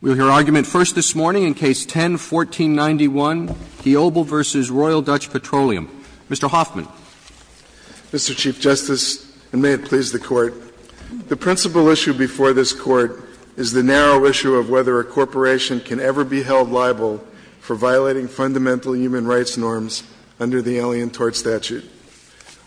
We'll hear argument first this morning in Case 10-1491, Kiobel v. Royal Dutch Petroleum. Mr. Hoffman. Mr. Chief Justice, and may it please the Court, the principal issue before this Court is the narrow issue of whether a corporation can ever be held liable for violating fundamental human rights norms under the Alien Tort Statute.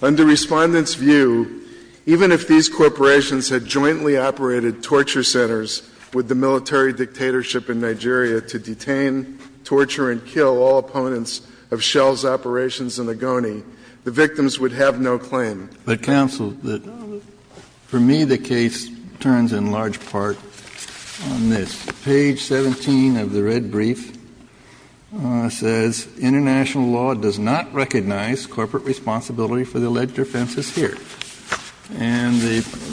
Under Respondent's view, even if these corporations had jointly operated torture centers with the military dictatorship in Nigeria to detain, torture, and kill all opponents of Shell's operations in Ogoni, the victims would have no claim. But, Counsel, for me the case turns in large part on this. Page 17 of the red brief says, International law does not recognize corporate responsibility for the alleged offenses here. And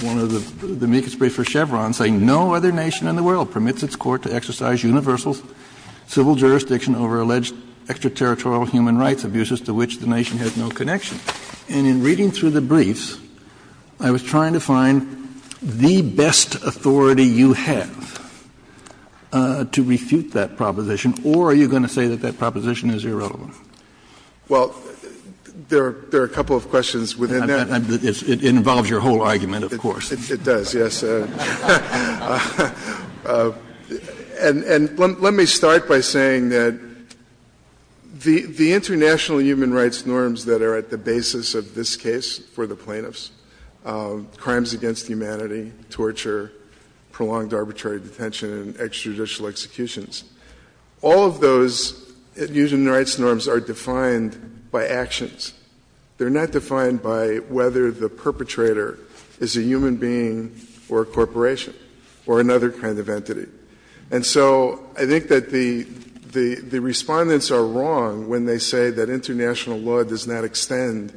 one of the amicus briefs for Chevron saying, No other nation in the world permits its court to exercise universal civil jurisdiction over alleged extraterritorial human rights abuses to which the nation has no connection. And in reading through the briefs, I was trying to find the best authority you have to refute that proposition. Or are you going to say that that proposition is irrelevant? Well, there are a couple of questions within that. It involves your whole argument, of course. It does, yes. And let me start by saying that the international human rights norms that are at the basis of this case for the plaintiffs, crimes against humanity, torture, prolonged arbitrary detention, and extrajudicial executions, all of those human rights norms are defined by actions. They're not defined by whether the perpetrator is a human being or a corporation or another kind of entity. And so I think that the Respondents are wrong when they say that international law does not extend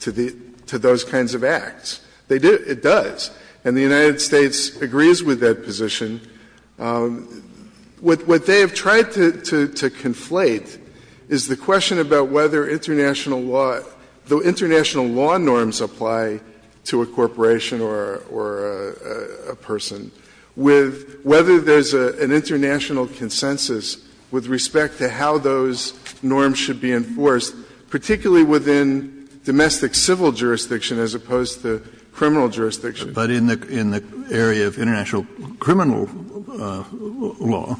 to those kinds of acts. It does. And the United States agrees with that position. What they have tried to conflate is the question about whether international law, the international law norms apply to a corporation or a person, with whether there's an international consensus with respect to how those norms should be enforced, particularly within domestic civil jurisdiction as opposed to criminal jurisdiction. But in the area of international criminal law,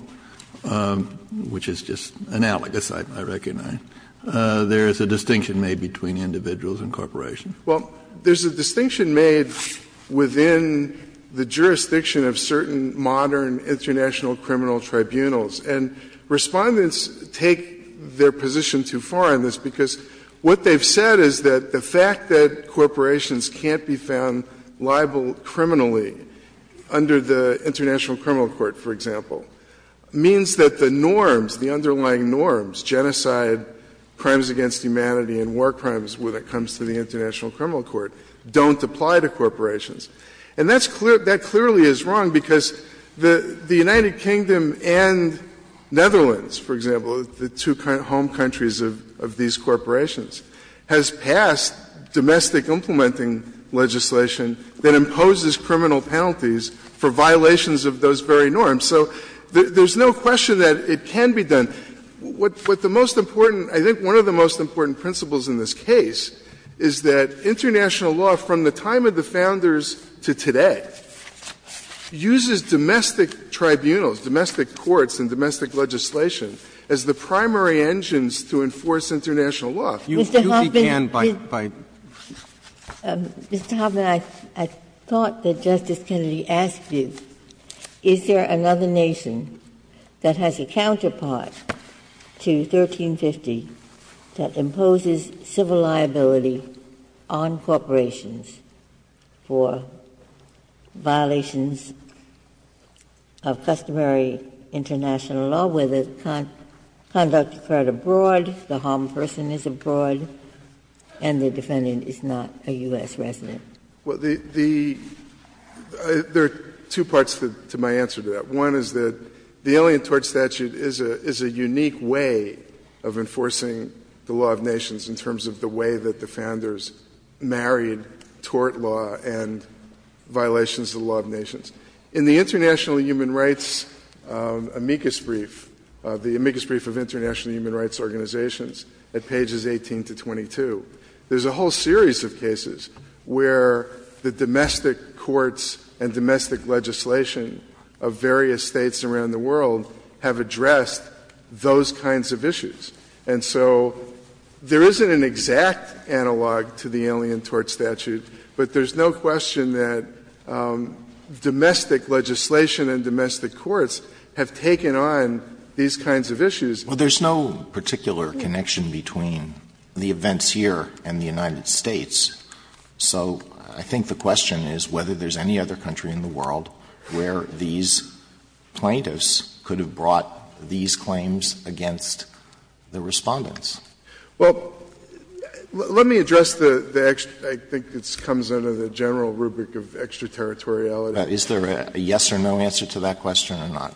which is just analogous, I recognize, there is a distinction made between individuals and corporations. Well, there's a distinction made within the jurisdiction of certain modern international criminal tribunals. And Respondents take their position too far on this because what they've said is that the fact that corporations can't be found liable criminally under the International Criminal Court, for example, means that the norms, the underlying norms, genocide, crimes against humanity and war crimes when it comes to the International Criminal Court don't apply to corporations. And that clearly is wrong because the United Kingdom and Netherlands, for example, the two home countries of these corporations, has passed domestic implementing legislation that imposes criminal penalties for violations of those very norms. So there's no question that it can be done. What the most important — I think one of the most important principles in this case is that international law, from the time of the Founders to today, uses domestic tribunals, domestic courts and domestic legislation as the primary engines to enforce international law. You do begin by the law. Ginsburg. Mr. Hoffman, I thought that Justice Kennedy asked you, is there another nation that has a counterpart to 1350 that imposes civil liability on corporations for violations of customary international law where the conduct occurred abroad, the harmed person is abroad, and the defendant is not a U.S. resident? Well, the — there are two parts to my answer to that. One is that the Alien Tort Statute is a unique way of enforcing the law of nations in terms of the way that the Founders married tort law and violations of the law of nations. In the International Human Rights amicus brief, the amicus brief of international human rights organizations, at pages 18 to 22, there's a whole series of cases where the domestic courts and domestic legislation of various States around the world have addressed those kinds of issues. And so there isn't an exact analog to the Alien Tort Statute, but there's no question that domestic legislation and domestic courts have taken on these kinds of issues. Well, there's no particular connection between the events here and the United States. So I think the question is whether there's any other country in the world where these plaintiffs could have brought these claims against the Respondents. Well, let me address the extra — I think it comes under the general rubric of extraterritoriality. Is there a yes or no answer to that question or not?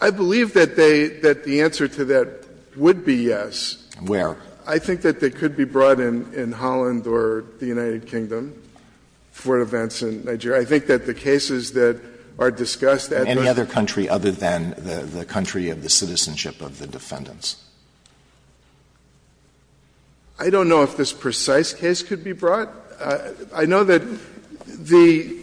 I believe that they — that the answer to that would be yes. Where? I think that they could be brought in Holland or the United Kingdom for events in Nigeria. I think that the cases that are discussed at those — Any other country other than the country of the citizenship of the defendants? I don't know if this precise case could be brought. I know that the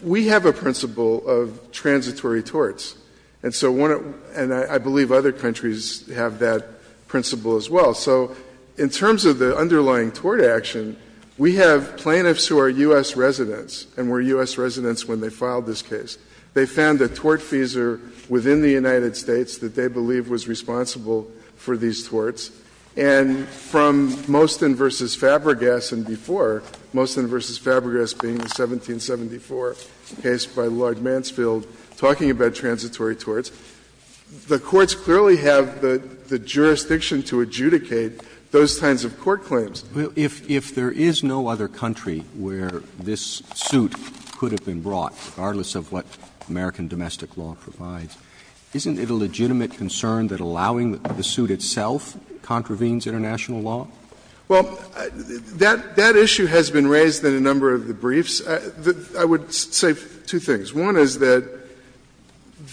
— we have a principle of transitory torts. And so one of — and I believe other countries have that principle as well. So in terms of the underlying tort action, we have plaintiffs who are U.S. residents and were U.S. residents when they filed this case. They found a tortfeasor within the United States that they believed was responsible for these torts. And from Mostyn v. Fabregas and before, Mostyn v. Fabregas being the 1774 case by Lloyd Mansfield talking about transitory torts, the courts clearly have the jurisdiction to adjudicate those kinds of court claims. If there is no other country where this suit could have been brought, regardless of what American domestic law provides, isn't it a legitimate concern that allowing the suit itself contravenes international law? Well, that issue has been raised in a number of the briefs. I would say two things. One is that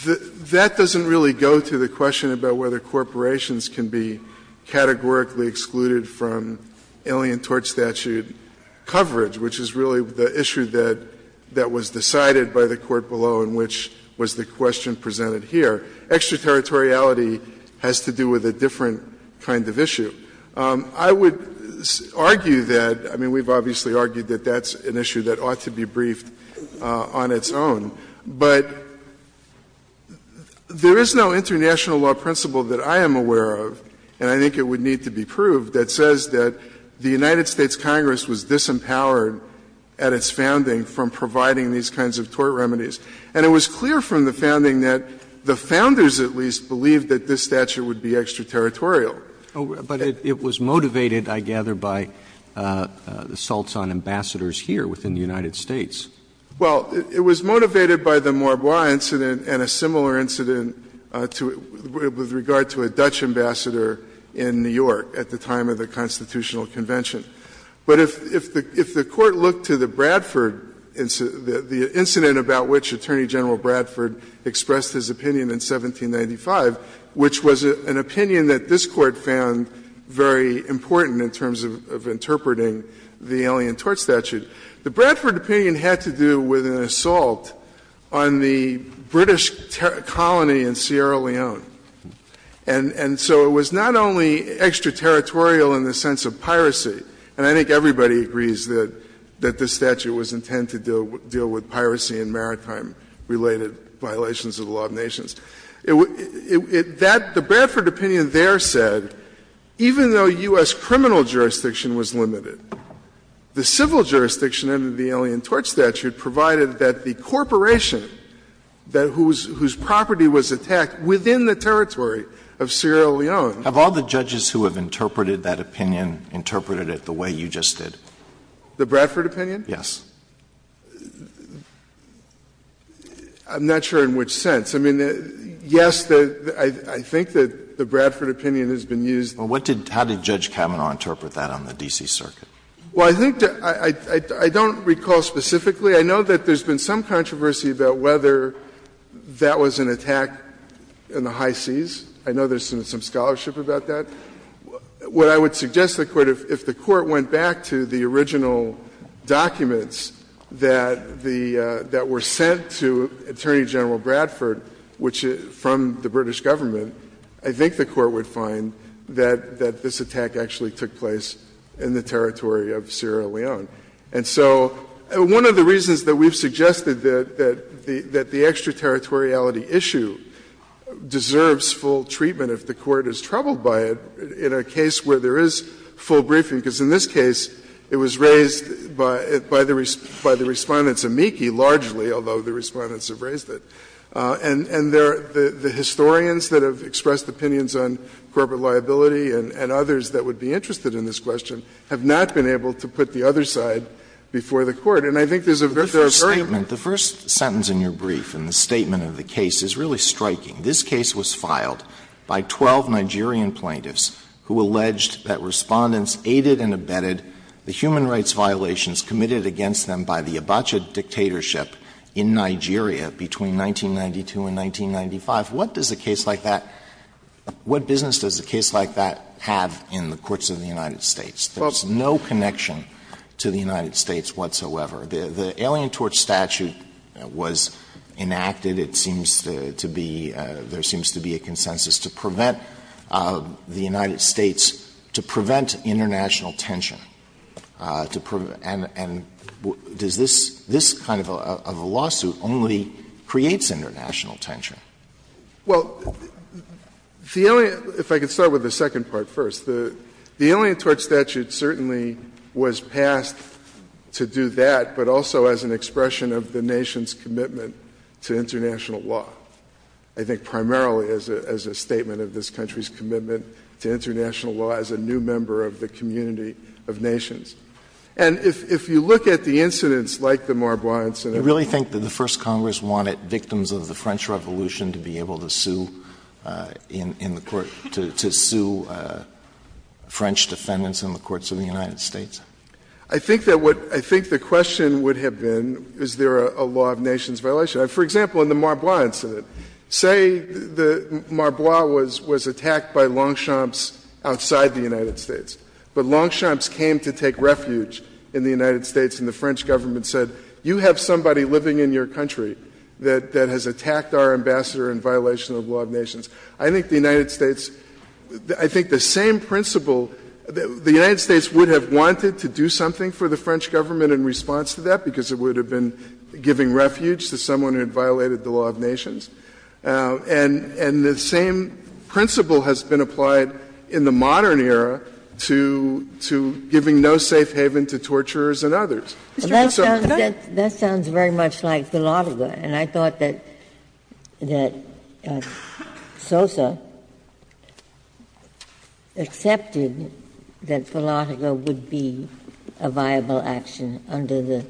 that doesn't really go to the question about whether corporations can be categorically excluded from alien tort statute coverage, which is really the issue that was decided by the Court below and which was the question presented here. Extraterritoriality has to do with a different kind of issue. I would argue that, I mean, we've obviously argued that that's an issue that ought to be briefed on its own. But there is no international law principle that I am aware of, and I think it would need to be proved, that says that the United States Congress was disempowered at its founding from providing these kinds of tort remedies. And it was clear from the founding that the founders at least believed that this statute would be extraterritorial. But it was motivated, I gather, by assaults on ambassadors here within the United States. Well, it was motivated by the Marbois incident and a similar incident to the regard to a Dutch ambassador in New York at the time of the Constitutional Convention. But if the Court looked to the Bradford incident, the incident about which Attorney General Bradford expressed his opinion in 1795, which was an opinion that this Court found very important in terms of interpreting the Alien Tort Statute, the Bradford opinion had to do with an assault on the British colony in Sierra Leone. And so it was not only extraterritorial in the sense of piracy, and I think everybody agrees that this statute was intended to deal with piracy and maritime-related violations of the law of nations. It was that the Bradford opinion there said, even though U.S. criminal jurisdiction was limited, the civil jurisdiction under the Alien Tort Statute provided that the corporation whose property was attacked within the territory of Sierra Leone. Alito, have all the judges who have interpreted that opinion interpreted it the way you just did? The Bradford opinion? Yes. I'm not sure in which sense. I mean, yes, I think that the Bradford opinion has been used. Alito, how did Judge Kavanaugh interpret that on the D.C. Circuit? Well, I think I don't recall specifically. I know that there's been some controversy about whether that was an attack in the high seas. I know there's some scholarship about that. What I would suggest to the Court, if the Court went back to the original documents that were sent to Attorney General Bradford, which is from the British Government, I think the Court would find that this attack actually took place in the territory of Sierra Leone. And so one of the reasons that we've suggested that the extraterritoriality issue deserves full treatment if the Court is troubled by it in a case where there is full briefing, because in this case it was raised by the Respondents' amici largely, although the Respondents have raised it. And the historians that have expressed opinions on corporate liability and others that would be interested in this question have not been able to put the other side before the Court. And I think there's a very important point. The first sentence in your brief and the statement of the case is really striking. This case was filed by 12 Nigerian plaintiffs who alleged that Respondents aided and abetted the human rights violations committed against them by the Abacha dictatorship in Nigeria between 1992 and 1995. What does a case like that – what business does a case like that have in the courts of the United States? There's no connection to the United States whatsoever. The Alien Torch statute was enacted. It seems to be – there seems to be a consensus to prevent the United States to prevent international tension, to prevent – and does this kind of a lawsuit only creates international tension? Well, the Alien – if I could start with the second part first. The Alien Torch statute certainly was passed to do that, but also as an expression of the nation's commitment to international law. I think primarily as a statement of this country's commitment to international law as a new member of the community of nations. And if you look at the incidents like the Marbois incident – Do you really think that the First Congress wanted victims of the French Revolution to be able to sue in the court – to sue French defendants in the courts of the United States? I think that what – I think the question would have been, is there a law of nations violation? For example, in the Marbois incident, say the Marbois was attacked by longchamps outside the United States, but longchamps came to take refuge in the United States and the French government said, you have somebody living in your country that has attacked our ambassador in violation of the law of nations. I think the United States – I think the same principle – the United States would have wanted to do something for the French government in response to that because it would have been giving refuge to someone who had violated the law of nations. And the same principle has been applied in the modern era to giving no safe haven to torturers and others. That sounds very much like Philatelga, and I thought that Sosa accepted that Philatelga would be a viable action under the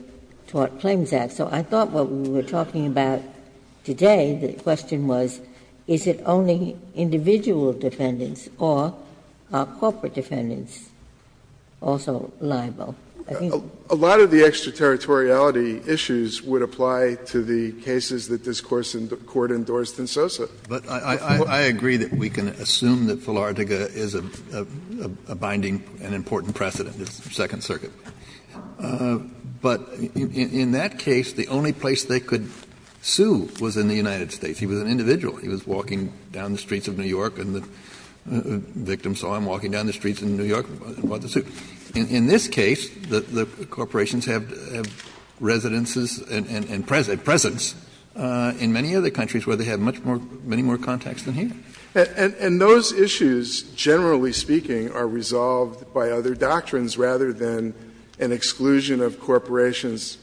Tort Claims Act. So I thought what we were talking about today, the question was, is it only individual defendants or are corporate defendants also liable? I think the question was, is it only individual defendants or are corporate defendants also liable? A lot of the extra-territoriality issues would apply to the cases that this Court endorsed in Sosa. Kennedy, but I agree that we can assume that Philatelga is a binding and important precedent, the Second Circuit. But in that case, the only place they could sue was in the United States. He was an individual. He was walking down the streets of New York and the victim saw him walking down the streets of New York and bought the suit. In this case, the corporations have residences and presence in many other countries where they have much more, many more contacts than here. And those issues, generally speaking, are resolved by other doctrines rather than an exclusion of corporations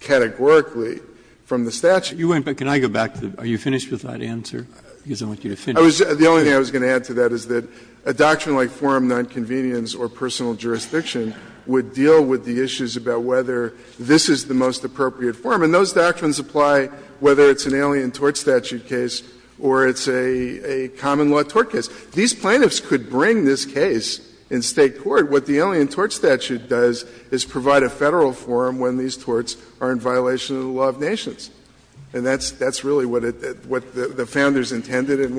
categorically from the statute. But can I go back to the, are you finished with that answer, because I want you to finish. The only thing I was going to add to that is that a doctrine like forum nonconvenience or personal jurisdiction would deal with the issues about whether this is the most appropriate forum. And those doctrines apply whether it's an alien tort statute case or it's a common law tort case. These plaintiffs could bring this case in State court. What the alien tort statute does is provide a Federal forum when these torts are in violation of the law of nations. And that's really what the Founders intended and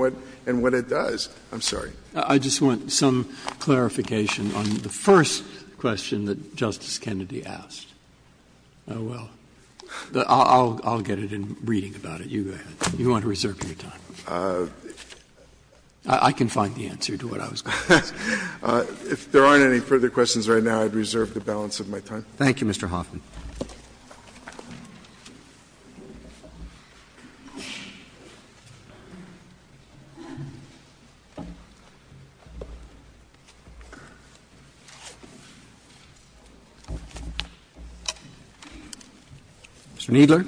what it does. I'm sorry. Breyer. I just want some clarification on the first question that Justice Kennedy asked. Oh, well. I'll get it in reading about it. You go ahead. You want to reserve your time. I can find the answer to what I was going to ask. If there aren't any further questions right now, I'd reserve the balance of my time. Thank you, Mr. Hoffman. Mr. Kneedler.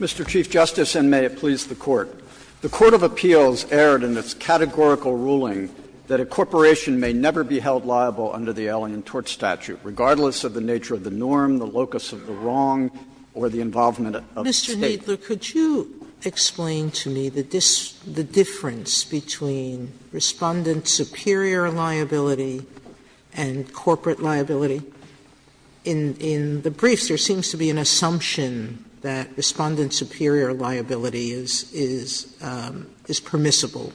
Mr. Chief Justice, and may it please the Court. The court of appeals erred in its categorical ruling that a corporation may never be held liable under the alien tort statute, regardless of the nature of the norm, the locus of the wrong, or the involvement of the State. Sotomayor, could you explain to me the difference between Respondent superior liability and corporate liability? In the briefs, there seems to be an assumption that Respondent superior liability is permissible,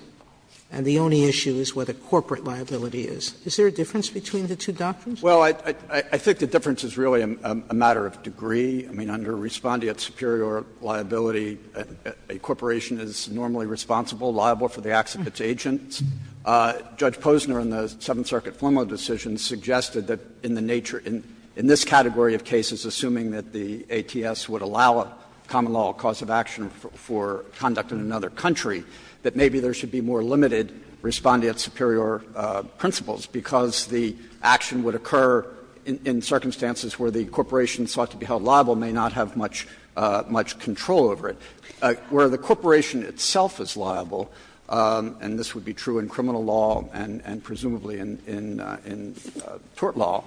and the only issue is whether corporate liability is. Is there a difference between the two doctrines? Well, I think the difference is really a matter of degree. I mean, under Respondent superior liability, a corporation is normally responsible, liable for the acts of its agents. Judge Posner in the Seventh Circuit Fleming decision suggested that in the nature of this category of cases, assuming that the ATS would allow a common law cause of action for conduct in another country, that maybe there should be more limited Respondent superior principles, because the action would occur in circumstances where the corporation sought to be held liable may not have much control over it. Where the corporation itself is liable, and this would be true in criminal law and presumably in tort law,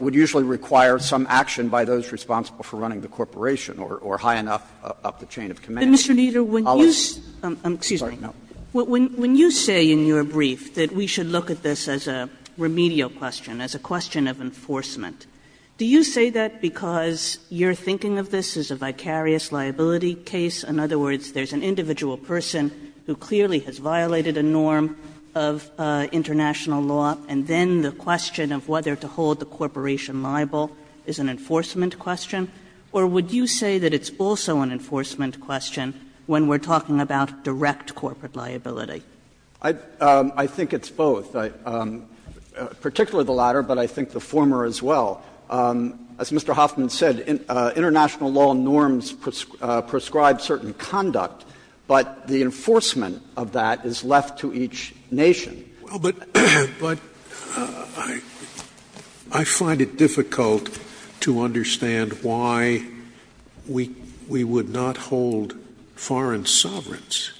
would usually require some action by those responsible for running the corporation or high enough up the chain of command. Kagan. I'll ask. Kagan. Excuse me. When you say in your brief that we should look at this as a remedial question, as a question of enforcement, do you say that because you're thinking of this as a vicarious liability case? In other words, there's an individual person who clearly has violated a norm of international law and then the question of whether to hold the corporation liable is an enforcement question? Or would you say that it's also an enforcement question when we're talking about direct corporate liability? I think it's both, particularly the latter, but I think the former as well. As Mr. Hoffman said, international law norms prescribe certain conduct, but the enforcement of that is left to each nation. Scalia. Well, but I find it difficult to understand why we would not hold foreign sovereigns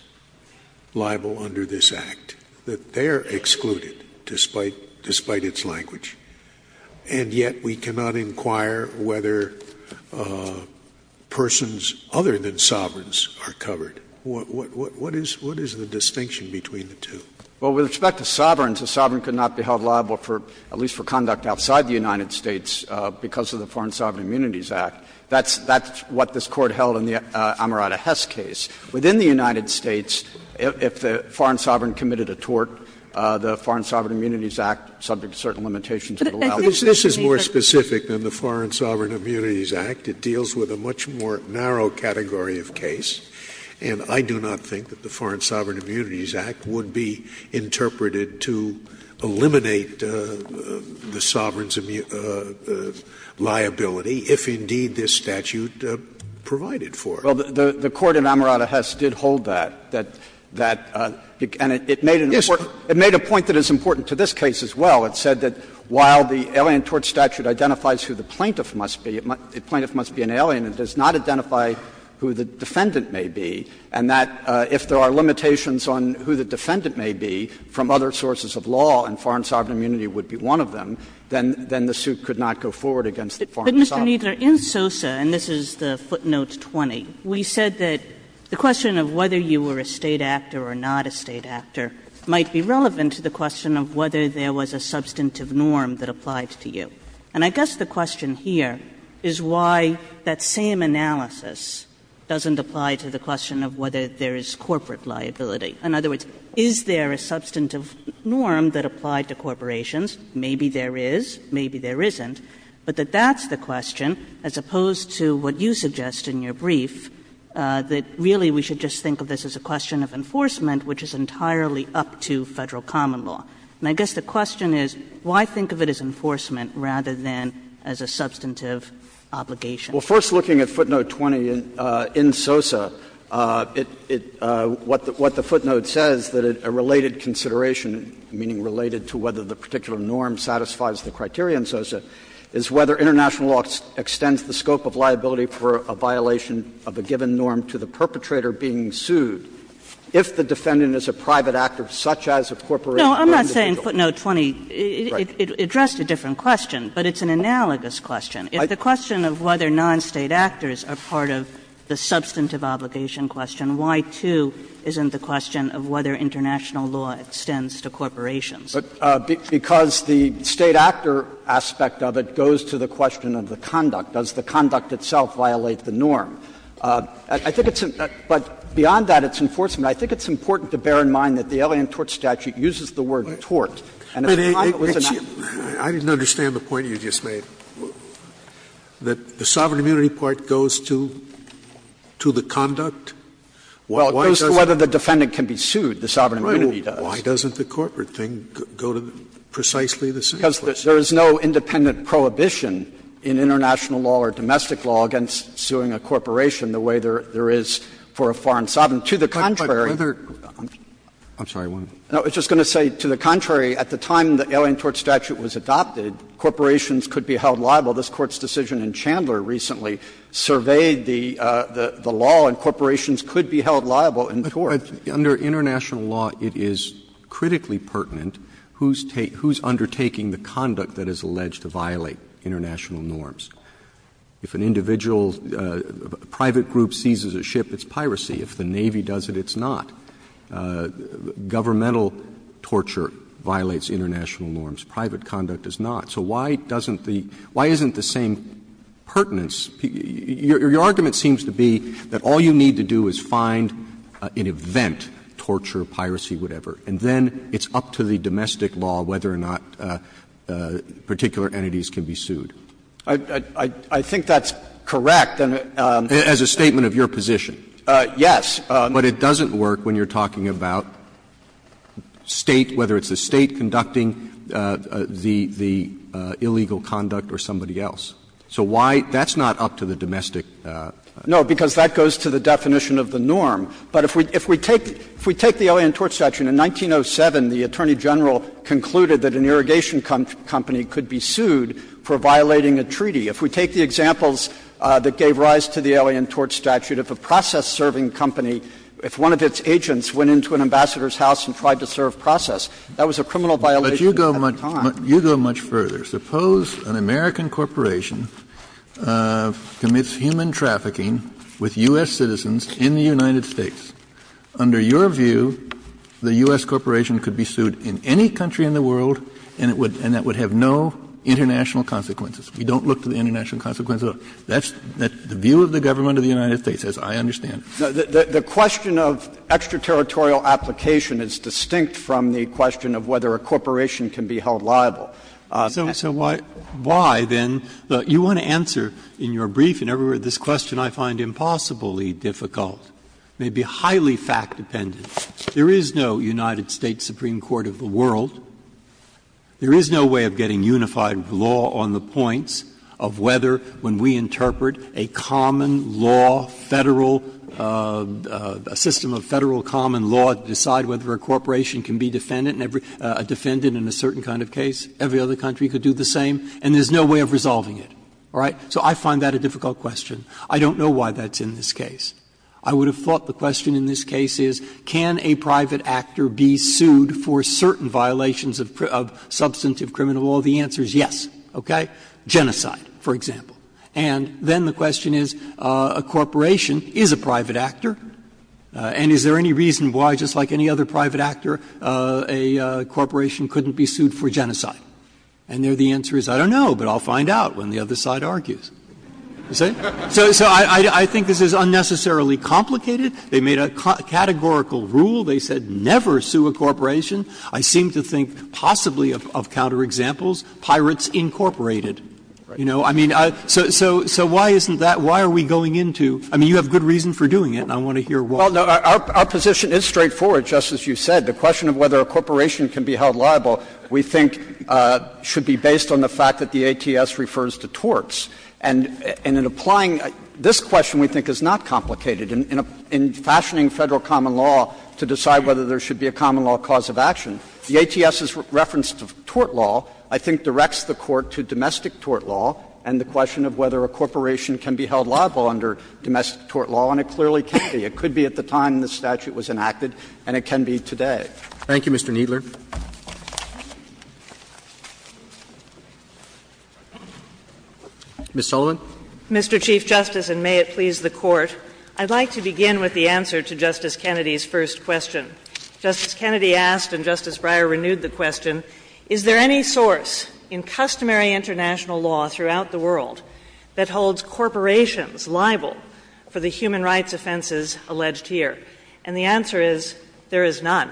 liable under this Act, that they're excluded despite its language, and yet we cannot inquire whether persons other than sovereigns are covered. What is the distinction between the two? Well, with respect to sovereigns, a sovereign could not be held liable for, at least for conduct outside the United States because of the Foreign Sovereign Immunities Act. That's what this Court held in the Amarada-Hess case. Within the United States, if the foreign sovereign committed a tort, the Foreign Sovereign Immunities Act, subject to certain limitations, would allow it. But this is more specific than the Foreign Sovereign Immunities Act. It deals with a much more narrow category of case, and I do not think that the Foreign Sovereign Immunities Act would be interpreted to eliminate the sovereign's liability, if indeed this statute provided for it. Well, the Court in Amarada-Hess did hold that, that it made an important point. It made a point that is important to this case as well. It said that while the alien tort statute identifies who the plaintiff must be, the plaintiff must be an alien, it does not identify who the defendant may be, and that if there are limitations on who the defendant may be from other sources of law and foreign sovereign immunity would be one of them, then the suit could not go forward against the foreign sovereign. But, Mr. Kneedler, in SOSA, and this is footnote 20, we said that the question of whether you were a State actor or not a State actor might be relevant to the question of whether there was a substantive norm that applied to you. And I guess the question here is why that same analysis doesn't apply to the question of whether there is corporate liability. In other words, is there a substantive norm that applied to corporations? Maybe there is, maybe there isn't. But that that's the question, as opposed to what you suggest in your brief, that really we should just think of this as a question of enforcement, which is entirely up to Federal common law. And I guess the question is, why think of it as enforcement rather than as a substantive obligation? Kneedler, Well, first looking at footnote 20 in SOSA, what the footnote says, that a related consideration, meaning related to whether the particular norm satisfies the criteria in SOSA, is whether international law extends the scope of liability for a violation of a given norm to the perpetrator being sued if the defendant is a private actor, such as a corporate or individual. Kagan No, I'm not saying footnote 20 addressed a different question, but it's an analogous question. If the question of whether non-State actors are part of the substantive obligation question, why, too, isn't the question of whether international law extends to corporations? Kneedler, Because the State actor aspect of it goes to the question of the conduct. Does the conduct itself violate the norm? I think it's an – but beyond that, it's enforcement. I think it's important to bear in mind that the Alien Tort Statute uses the word tort. And at the time it was enacted. Scalia I didn't understand the point you just made. That the sovereign immunity part goes to the conduct? Kneedler, Well, it goes to whether the defendant can be sued. The sovereign immunity does. Scalia Why doesn't the corporate thing go to precisely the same place? Kneedler, Because there is no independent prohibition in international law or domestic law against suing a corporation the way there is for a foreign sovereign. To the contrary. Scalia But whether – I'm sorry, I want to. Kneedler, No, I was just going to say to the contrary, at the time the Alien Tort Statute was adopted, corporations could be held liable. This Court's decision in Chandler recently surveyed the law, and corporations could be held liable in tort. Roberts, Under international law, it is critically pertinent who's undertaking the conduct that is alleged to violate international norms. If an individual, a private group seizes a ship, it's piracy. If the Navy does it, it's not. Governmental torture violates international norms. Private conduct does not. So why doesn't the – why isn't the same pertinence? Your argument seems to be that all you need to do is find an event, torture, piracy, whatever, and then it's up to the domestic law whether or not particular entities can be sued. Kneedler, I think that's correct. Roberts, As a statement of your position. Kneedler, Yes. But it doesn't work when you're talking about State, whether it's the State conducting the illegal conduct or somebody else. So why – that's not up to the domestic. No, because that goes to the definition of the norm. But if we take the Alien Tort Statute, in 1907, the Attorney General concluded that an irrigation company could be sued for violating a treaty. If we take the examples that gave rise to the Alien Tort Statute, if a process of serving a company, if one of its agents went into an ambassador's house and tried to serve process, that was a criminal violation at the time. Kennedy, But you go much further. Suppose an American corporation commits human trafficking with U.S. citizens in the United States. Under your view, the U.S. corporation could be sued in any country in the world and it would – and that would have no international consequences. We don't look to the international consequences at all. That's the view of the government of the United States, as I understand. The question of extraterritorial application is distinct from the question of whether a corporation can be held liable. So why, then, you want to answer in your brief and everywhere, this question I find impossibly difficult, may be highly fact-dependent. There is no United States Supreme Court of the world, there is no way of getting a unified law on the points of whether, when we interpret a common law, Federal – a system of Federal common law to decide whether a corporation can be defendant in a certain kind of case, every other country could do the same, and there is no way of resolving it. All right? So I find that a difficult question. I don't know why that's in this case. I would have thought the question in this case is, can a private actor be sued for certain violations of substantive criminal law? The answer is yes. Okay? Genocide, for example. And then the question is, a corporation is a private actor, and is there any reason why, just like any other private actor, a corporation couldn't be sued for genocide? And there the answer is, I don't know, but I'll find out when the other side argues. You see? So I think this is unnecessarily complicated. They made a categorical rule. They said never sue a corporation. I seem to think possibly of counterexamples, Pirates, Incorporated. You know, I mean, so why isn't that – why are we going into – I mean, you have good reason for doing it, and I want to hear why. Well, no, our position is straightforward, just as you said. The question of whether a corporation can be held liable, we think, should be based on the fact that the ATS refers to torts. And in applying this question, we think, is not complicated. In fashioning Federal common law to decide whether there should be a common law cause of action, the ATS's reference to tort law, I think, directs the Court to domestic tort law and the question of whether a corporation can be held liable under domestic tort law, and it clearly can be. It could be at the time the statute was enacted, and it can be today. Thank you, Mr. Kneedler. Ms. Sullivan. Mr. Chief Justice, and may it please the Court, I'd like to begin with the answer to Justice Kennedy's first question. Justice Kennedy asked, and Justice Breyer renewed the question, is there any source in customary international law throughout the world that holds corporations liable for the human rights offenses alleged here? And the answer is there is none.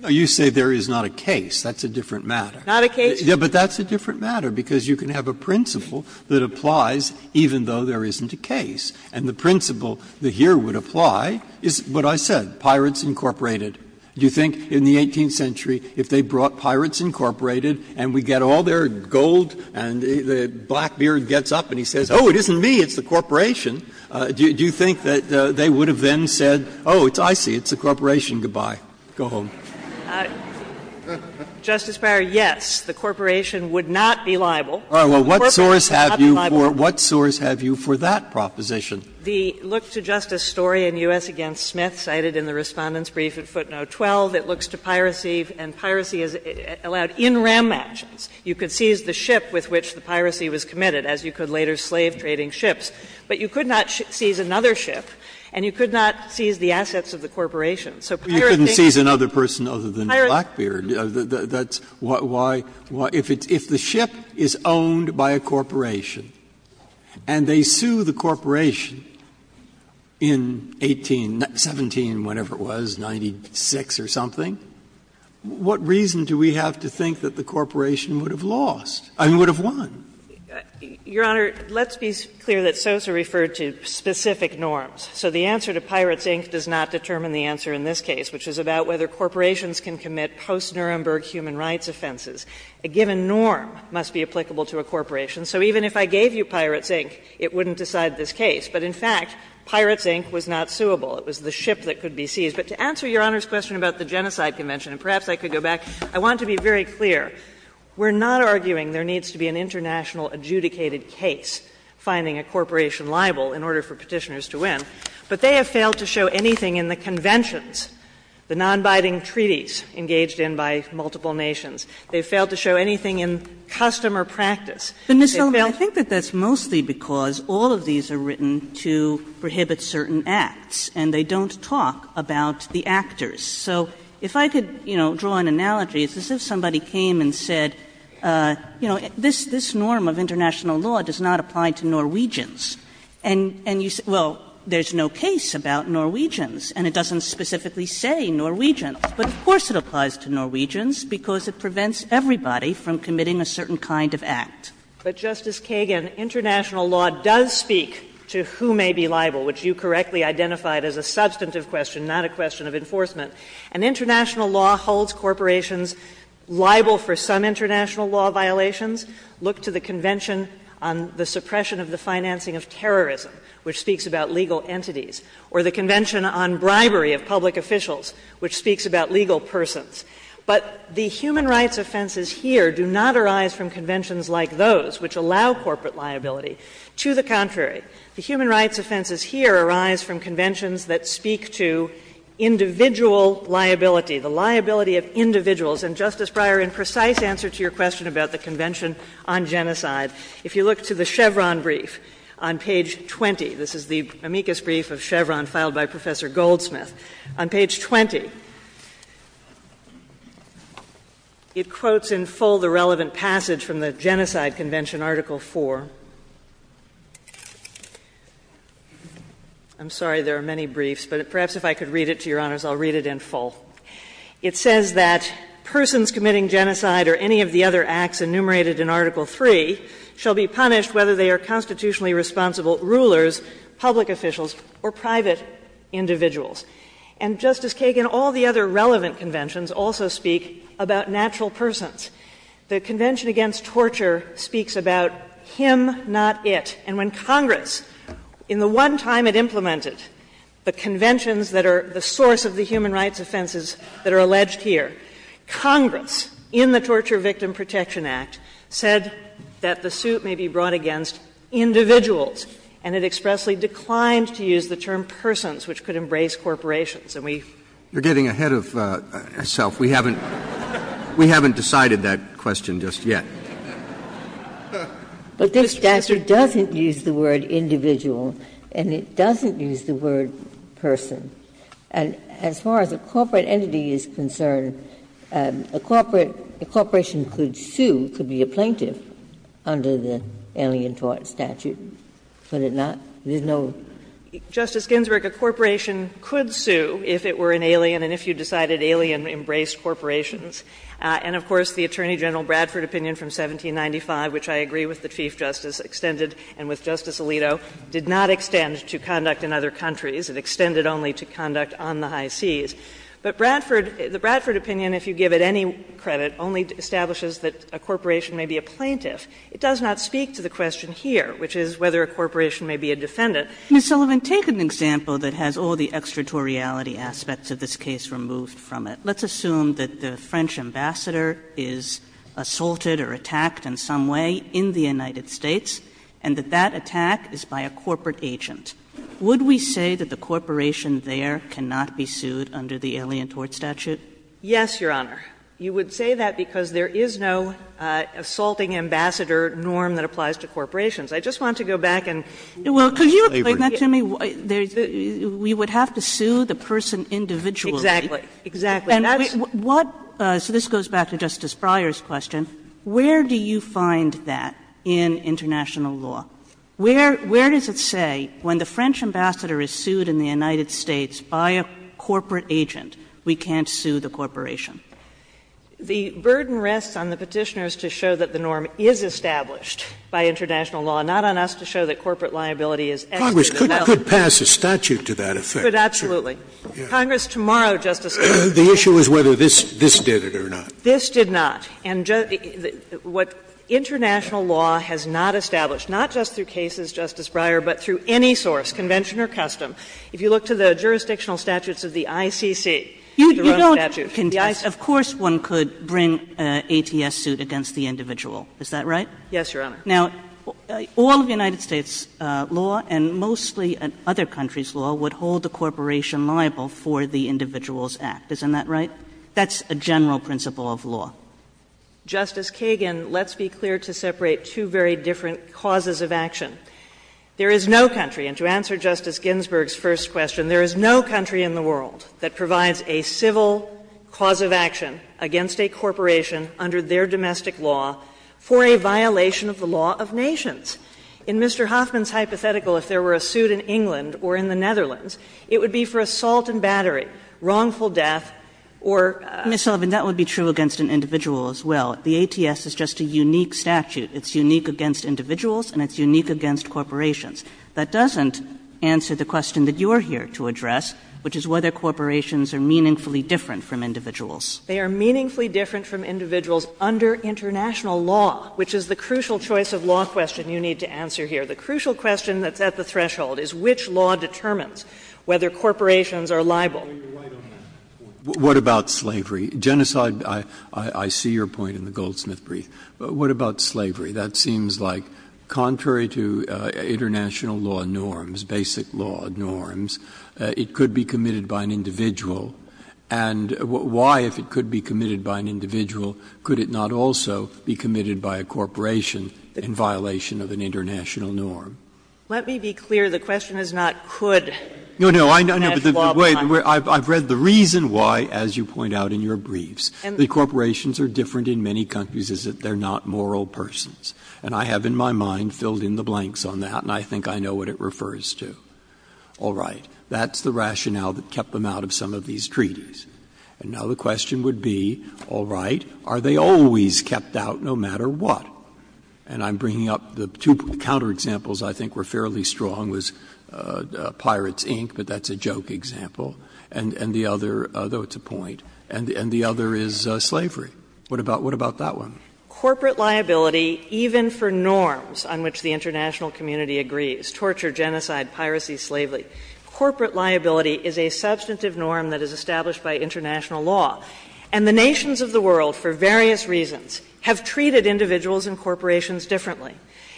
Breyer, you say there is not a case. That's a different matter. Not a case. Yes, but that's a different matter, because you can have a principle that applies even though there isn't a case, and the principle that here would apply is what I said, Pirates Incorporated. Do you think in the 18th century, if they brought Pirates Incorporated and we get all their gold and Blackbeard gets up and he says, oh, it isn't me, it's the corporation, do you think that they would have then said, oh, I see, it's a corporation, good-bye, go home? Justice Breyer, yes, the corporation would not be liable. The corporation would not be liable. What source have you for that proposition? The look to justice story in U.S. against Smith cited in the Respondent's brief at footnote 12, it looks to piracy, and piracy is allowed in ram matches. You could seize the ship with which the piracy was committed, as you could later slave-trading ships, but you could not seize another ship and you could not seize the assets of the corporation. So pirating. You couldn't seize another person other than Blackbeard. That's why, if the ship is owned by a corporation and they sue the corporation in 1817, whatever it was, 96 or something, what reason do we have to think that the corporation would have lost, I mean, would have won? Your Honor, let's be clear that Sosa referred to specific norms. So the answer to Pirates, Inc. does not determine the answer in this case, which is about whether corporations can commit post-Nuremberg human rights offenses. A given norm must be applicable to a corporation. So even if I gave you Pirates, Inc., it wouldn't decide this case. But in fact, Pirates, Inc. was not suable. It was the ship that could be seized. But to answer Your Honor's question about the Genocide Convention, and perhaps I could go back, I want to be very clear. We're not arguing there needs to be an international adjudicated case finding a corporation liable in order for Petitioners to win, but they have failed to show anything in the conventions, the nonbinding treaties engaged in by multiple nations, they have failed to show anything in customer practice, they've failed to do that. But Ms. Sullivan, I think that that's mostly because all of these are written to prohibit certain acts and they don't talk about the actors, so if I could, you know, draw an analogy, as if somebody came and said, you know, this norm of international law does not apply to Norwegians. And you say, well, there's no case about Norwegians, and it doesn't specifically say Norwegians, but of course it applies to Norwegians, because it prevents everybody from committing a certain kind of act. Sullivan. But, Justice Kagan, international law does speak to who may be liable, which you correctly identified as a substantive question, not a question of enforcement. And international law holds corporations liable for some international law violations. Look to the Convention on the Suppression of the Financing of Terrorism, which speaks about legal entities, or the Convention on Bribery of Public Officials, which speaks about legal persons. But the human rights offenses here do not arise from conventions like those, which allow corporate liability. To the contrary, the human rights offenses here arise from conventions that speak to individual liability, the liability of individuals. And, Justice Breyer, in precise answer to your question about the Convention on Genocide, if you look to the Chevron brief on page 20, this is the amicus brief of Chevron filed by Professor Goldsmith. On page 20, it quotes in full the relevant passage from the Genocide Convention Article IV. I'm sorry, there are many briefs, but perhaps if I could read it to Your Honors, I'll read it in full. It says that persons committing genocide or any of the other acts enumerated in Article III shall be punished whether they are constitutionally responsible rulers, public officials, or private individuals. And, Justice Kagan, all the other relevant conventions also speak about natural persons. The Convention Against Torture speaks about him, not it. And when Congress, in the one time it implemented the conventions that are the source of the human rights offenses that are alleged here, Congress, in the Torture Victim Protection Act, said that the suit may be brought against individuals, and it expressly declined to use the term persons, which could embrace corporations. And we've Roberts. You're getting ahead of yourself. We haven't decided that question just yet. But this statute doesn't use the word individual, and it doesn't use the word person. And as far as a corporate entity is concerned, a corporation could sue, could be a plaintiff under the Alien Tort Statute, could it not? There's no? Justice Ginsburg, a corporation could sue if it were an alien and if you decided alien embraced corporations. And, of course, the Attorney General Bradford opinion from 1795, which I agree with the Chief Justice extended and with Justice Alito, did not extend to conduct in other countries. It extended only to conduct on the high seas. But Bradford, the Bradford opinion if you give it any credit only establishes that a corporation may be a plaintiff. It does not speak to the question here, which is whether a corporation may be a defendant. Sotomayor, Ms. Sullivan, take an example that has all the extraterritoriality aspects of this case removed from it. Let's assume that the French ambassador is assaulted or attacked in some way in the United States, and that that attack is by a corporate agent. Would we say that the corporation there cannot be sued under the Alien Tort Statute? Sullivan, Yes, Your Honor. You would say that because there is no assaulting ambassador norm that applies to corporations. I just want to go back and look at the slavery. Kagan We would have to sue the person individually. Sullivan, Exactly, exactly. Kagan So this goes back to Justice Breyer's question. Where do you find that in international law? Where does it say when the French ambassador is sued in the United States by a corporate agent, we can't sue the corporation? Sullivan, The burden rests on the Petitioners to show that the norm is established by international law, not on us to show that corporate liability is extra. Scalia, Congress could pass a statute to that effect. Sullivan, But absolutely. Congress tomorrow, Justice Scalia. Scalia, The issue is whether this did it or not. Sullivan, This did not. And what international law has not established, not just through cases, Justice Breyer, but through any source, convention or custom, if you look to the jurisdictional statutes of the ICC, the run of statute, the ICC. Kagan You don't contest. Of course one could bring an ATS suit against the individual, is that right? Sullivan, Yes, Your Honor. Kagan Now, all of the United States law and mostly other countries' law would hold the corporation liable for the Individuals Act, isn't that right? That's a general principle of law. Justice Kagan, let's be clear to separate two very different causes of action. There is no country, and to answer Justice Ginsburg's first question, there is no country in the world that provides a civil cause of action against a corporation under their domestic law for a violation of the law of nations. In Mr. Hoffman's hypothetical, if there were a suit in England or in the Netherlands, it would be for assault and battery, wrongful death, or a law violation. In the United States, there is no country that provides a civil cause of action And there is no country in the world that provides a civil cause of action against an individual as well. The ATS is just a unique statute. It's unique against individuals, and it's unique against corporations. That doesn't answer the question that you are here to address, which is whether corporations are meaningfully different from individuals. They are meaningfully different from individuals under international law, which is the crucial choice of law question you need to answer here. The crucial question that's at the threshold is which law determines whether corporations are liable. Breyer, you're right on that point. What about slavery? Genocide, I see your point in the Goldsmith brief. But what about slavery? That seems like contrary to international law norms, basic law norms, it could be committed by an individual. And why, if it could be committed by an individual, could it not also be committed by a corporation in violation of an international norm? Let me be clear. The question is not could. No, no. I know, but the way the reason why, as you point out in your briefs, the corporations are different in many countries is that they are not moral persons. And I have in my mind filled in the blanks on that, and I think I know what it refers to. All right. That's the rationale that kept them out of some of these treaties. And now the question would be, all right, are they always kept out no matter what? And I'm bringing up the two counter-examples I think were fairly strong was Pirates Inc., but that's a joke example, and the other, though it's a point, and the other is slavery. What about that one? Corporate liability, even for norms on which the international community agrees, torture, genocide, piracy, slavery, corporate liability is a substantive norm that is established by international law. And the nations of the world, for various reasons, have treated individuals and corporations differently.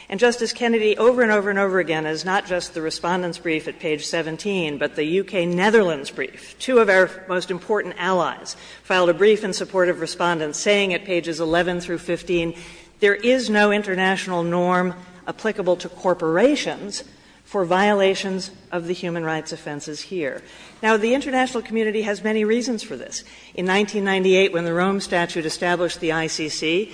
And, Justice Kennedy, over and over and over again, as not just the Respondent's brief at page 17, but the U.K.-Netherlands brief, two of our most important allies filed a brief in support of Respondent saying at pages 11 through 15, there is no international norm applicable to corporations for violations of the human rights offenses here. Now, the international community has many reasons for this. In 1998, when the Rome Statute established the ICC,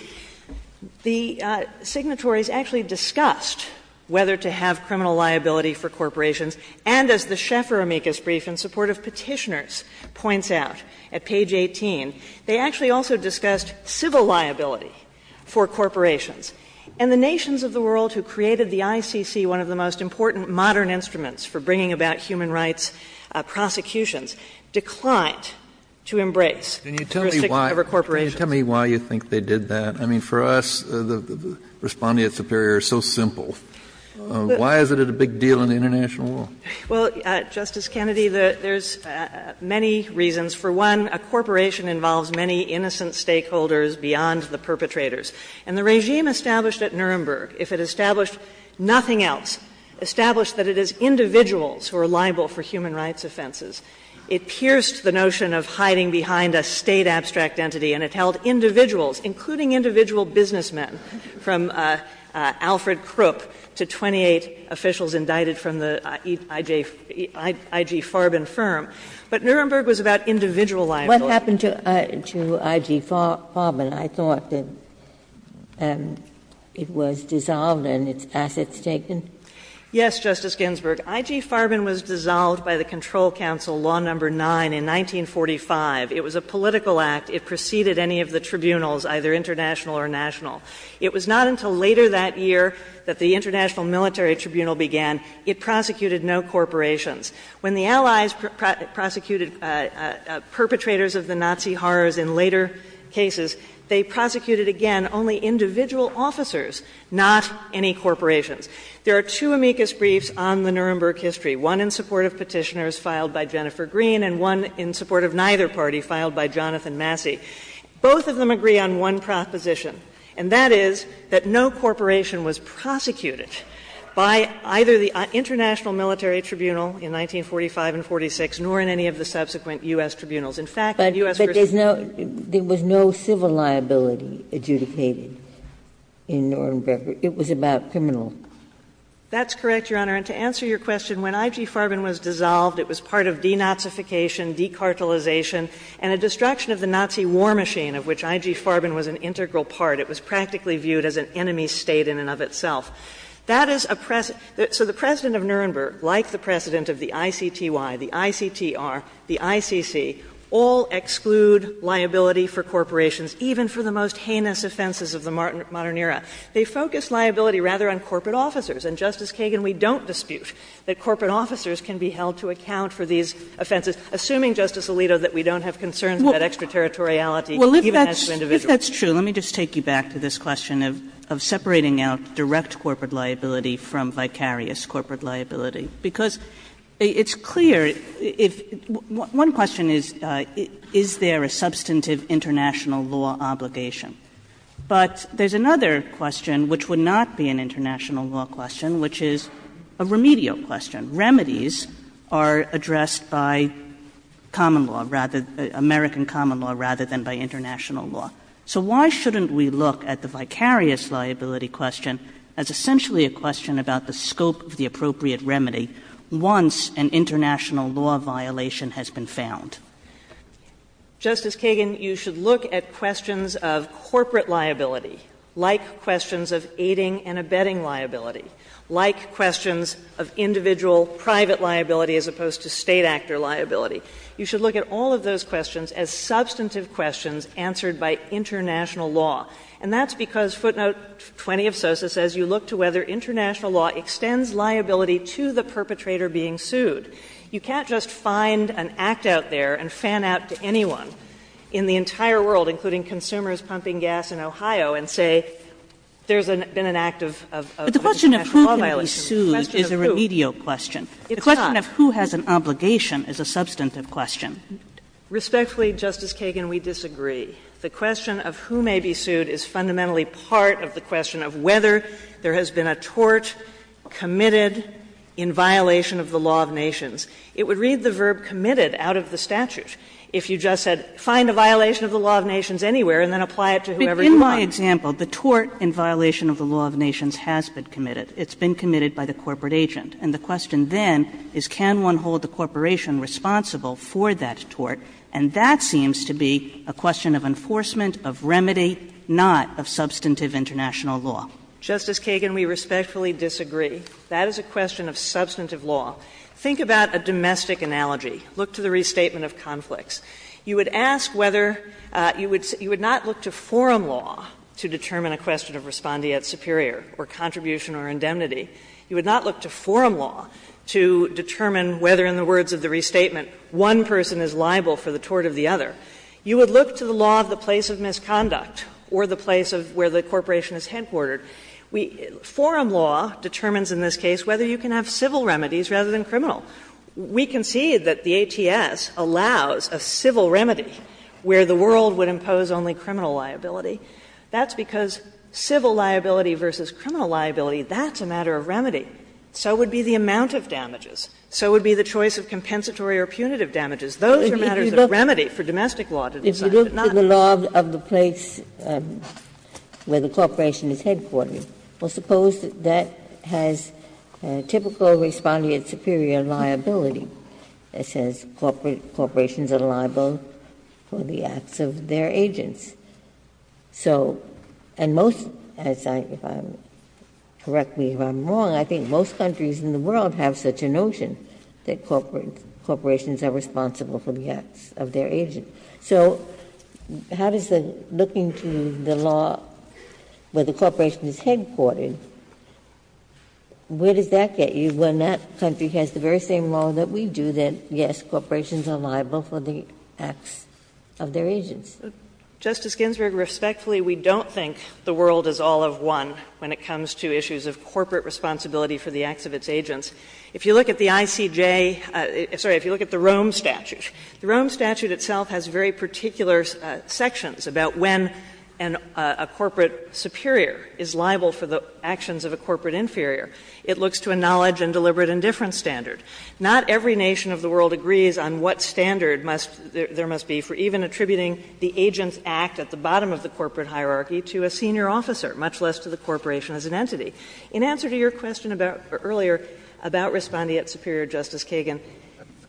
the signatories actually discussed whether to have criminal liability for corporations, and as the Schaeffer amicus brief in support of Petitioners points out at page 18, they actually also discussed whether to have criminal liability for corporations. And the nations of the world who created the ICC, one of the most important modern instruments for bringing about human rights prosecutions, declined to embrace jurisdiction over corporations. Kennedy. Can you tell me why you think they did that? I mean, for us, the Respondent-Superior is so simple. Why is it a big deal in the international world? Well, Justice Kennedy, there's many reasons. For one, a corporation involves many innocent stakeholders beyond the perpetrators. And the regime established at Nuremberg, if it established nothing else, established that it is individuals who are liable for human rights offenses, it pierced the notion of hiding behind a State abstract entity and it held individuals, including individual businessmen, from Alfred Krupp to 28 officials indicted from the I.G. Farben firm. But Nuremberg was about individual liability. What happened to I.G. Farben? I thought that it was dissolved and its assets taken. Yes, Justice Ginsburg. I.G. Farben was dissolved by the Control Council, Law No. 9, in 1945. It was a political act. It preceded any of the tribunals, either international or national. It was not until later that year that the International Military Tribunal began. It prosecuted no corporations. When the Allies prosecuted perpetrators of the Nazi horrors in later cases, they prosecuted, again, only individual officers, not any corporations. There are two amicus briefs on the Nuremberg history, one in support of Petitioners filed by Jennifer Green and one in support of neither party filed by Jonathan Massey. Both of them agree on one proposition, and that is that no corporation was prosecuted by either the International Military Tribunal in 1945 and 1946, nor in any of the subsequent U.S. tribunals. In fact, U.S. prisons were prosecuted. But there was no civil liability adjudicated in Nuremberg. It was about criminal. That's correct, Your Honor. And to answer your question, when I.G. Farben was dissolved, it was part of denazification, decartelization, and a destruction of the Nazi war machine, of which I.G. Farben was an integral part. It was practically viewed as an enemy state in and of itself. That is a precedent. So the President of Nuremberg, like the President of the ICTY, the ICTR, the ICC, all exclude liability for corporations, even for the most heinous offenses of the modern era. They focus liability rather on corporate officers. And, Justice Kagan, we don't dispute that corporate officers can be held to account for these offenses, assuming, Justice Alito, that we don't have concerns about extraterritoriality even as to individuals. Well, I think that's true. Let me just take you back to this question of separating out direct corporate liability from vicarious corporate liability. Because it's clear. One question is, is there a substantive international law obligation? But there's another question, which would not be an international law question, which is a remedial question. Remedies are addressed by common law, rather, American common law, rather than by international law. So why shouldn't we look at the vicarious liability question as essentially a question about the scope of the appropriate remedy once an international law violation has been found? Justice Kagan, you should look at questions of corporate liability, like questions of aiding and abetting liability, like questions of individual private liability as opposed to State actor liability. You should look at all of those questions as substantive questions answered by international law. And that's because footnote 20 of SOSA says you look to whether international law extends liability to the perpetrator being sued. You can't just find an act out there and fan out to anyone in the entire world, including consumers pumping gas in Ohio, and say there's been an act of international law violation. But the question of who can be sued is a remedial question. It's not. The question of who has an obligation is a substantive question. Respectfully, Justice Kagan, we disagree. The question of who may be sued is fundamentally part of the question of whether there has been a tort committed in violation of the law of nations. It would read the verb committed out of the statute. If you just said find a violation of the law of nations anywhere and then apply it to whoever you want. But in my example, the tort in violation of the law of nations has been committed. It's been committed by the corporate agent. And the question then is can one hold the corporation responsible for that tort? And that seems to be a question of enforcement, of remedy, not of substantive international law. Justice Kagan, we respectfully disagree. That is a question of substantive law. Think about a domestic analogy. Look to the restatement of conflicts. You would ask whether you would not look to forum law to determine a question of respondeat superior or contribution or indemnity. You would not look to forum law to determine whether, in the words of the restatement, one person is liable for the tort of the other. You would look to the law of the place of misconduct or the place of where the corporation is headquartered. Forum law determines in this case whether you can have civil remedies rather than criminal. We concede that the ATS allows a civil remedy where the world would impose only criminal liability. That's because civil liability versus criminal liability, that's a matter of remedy. So would be the amount of damages. So would be the choice of compensatory or punitive damages. Those are matters of remedy for domestic law to decide. But not of the place where the corporation is headquartered. Well, suppose that has typical respondeat superior liability. It says corporations are liable for the acts of their agents. So, and most, if I'm correct me if I'm wrong, I think most countries in the world have such a notion that corporations are responsible for the acts of their agents. So how does looking to the law where the corporation is headquartered, where does that get you when that country has the very same law that we do that, yes, corporations are liable for the acts of their agents? Justice Ginsburg, respectfully, we don't think the world is all of one when it comes to issues of corporate responsibility for the acts of its agents. If you look at the ICJ, sorry, if you look at the Rome statute, the Rome statute itself has very particular sections about when a corporate superior is liable for the actions of a corporate inferior. It looks to a knowledge and deliberate indifference standard. Not every nation of the world agrees on what standard there must be for even attributing the agent's act at the bottom of the corporate hierarchy to a senior officer, much less to the corporation as an entity. In answer to your question about, earlier, about respondeat superior, Justice Kagan,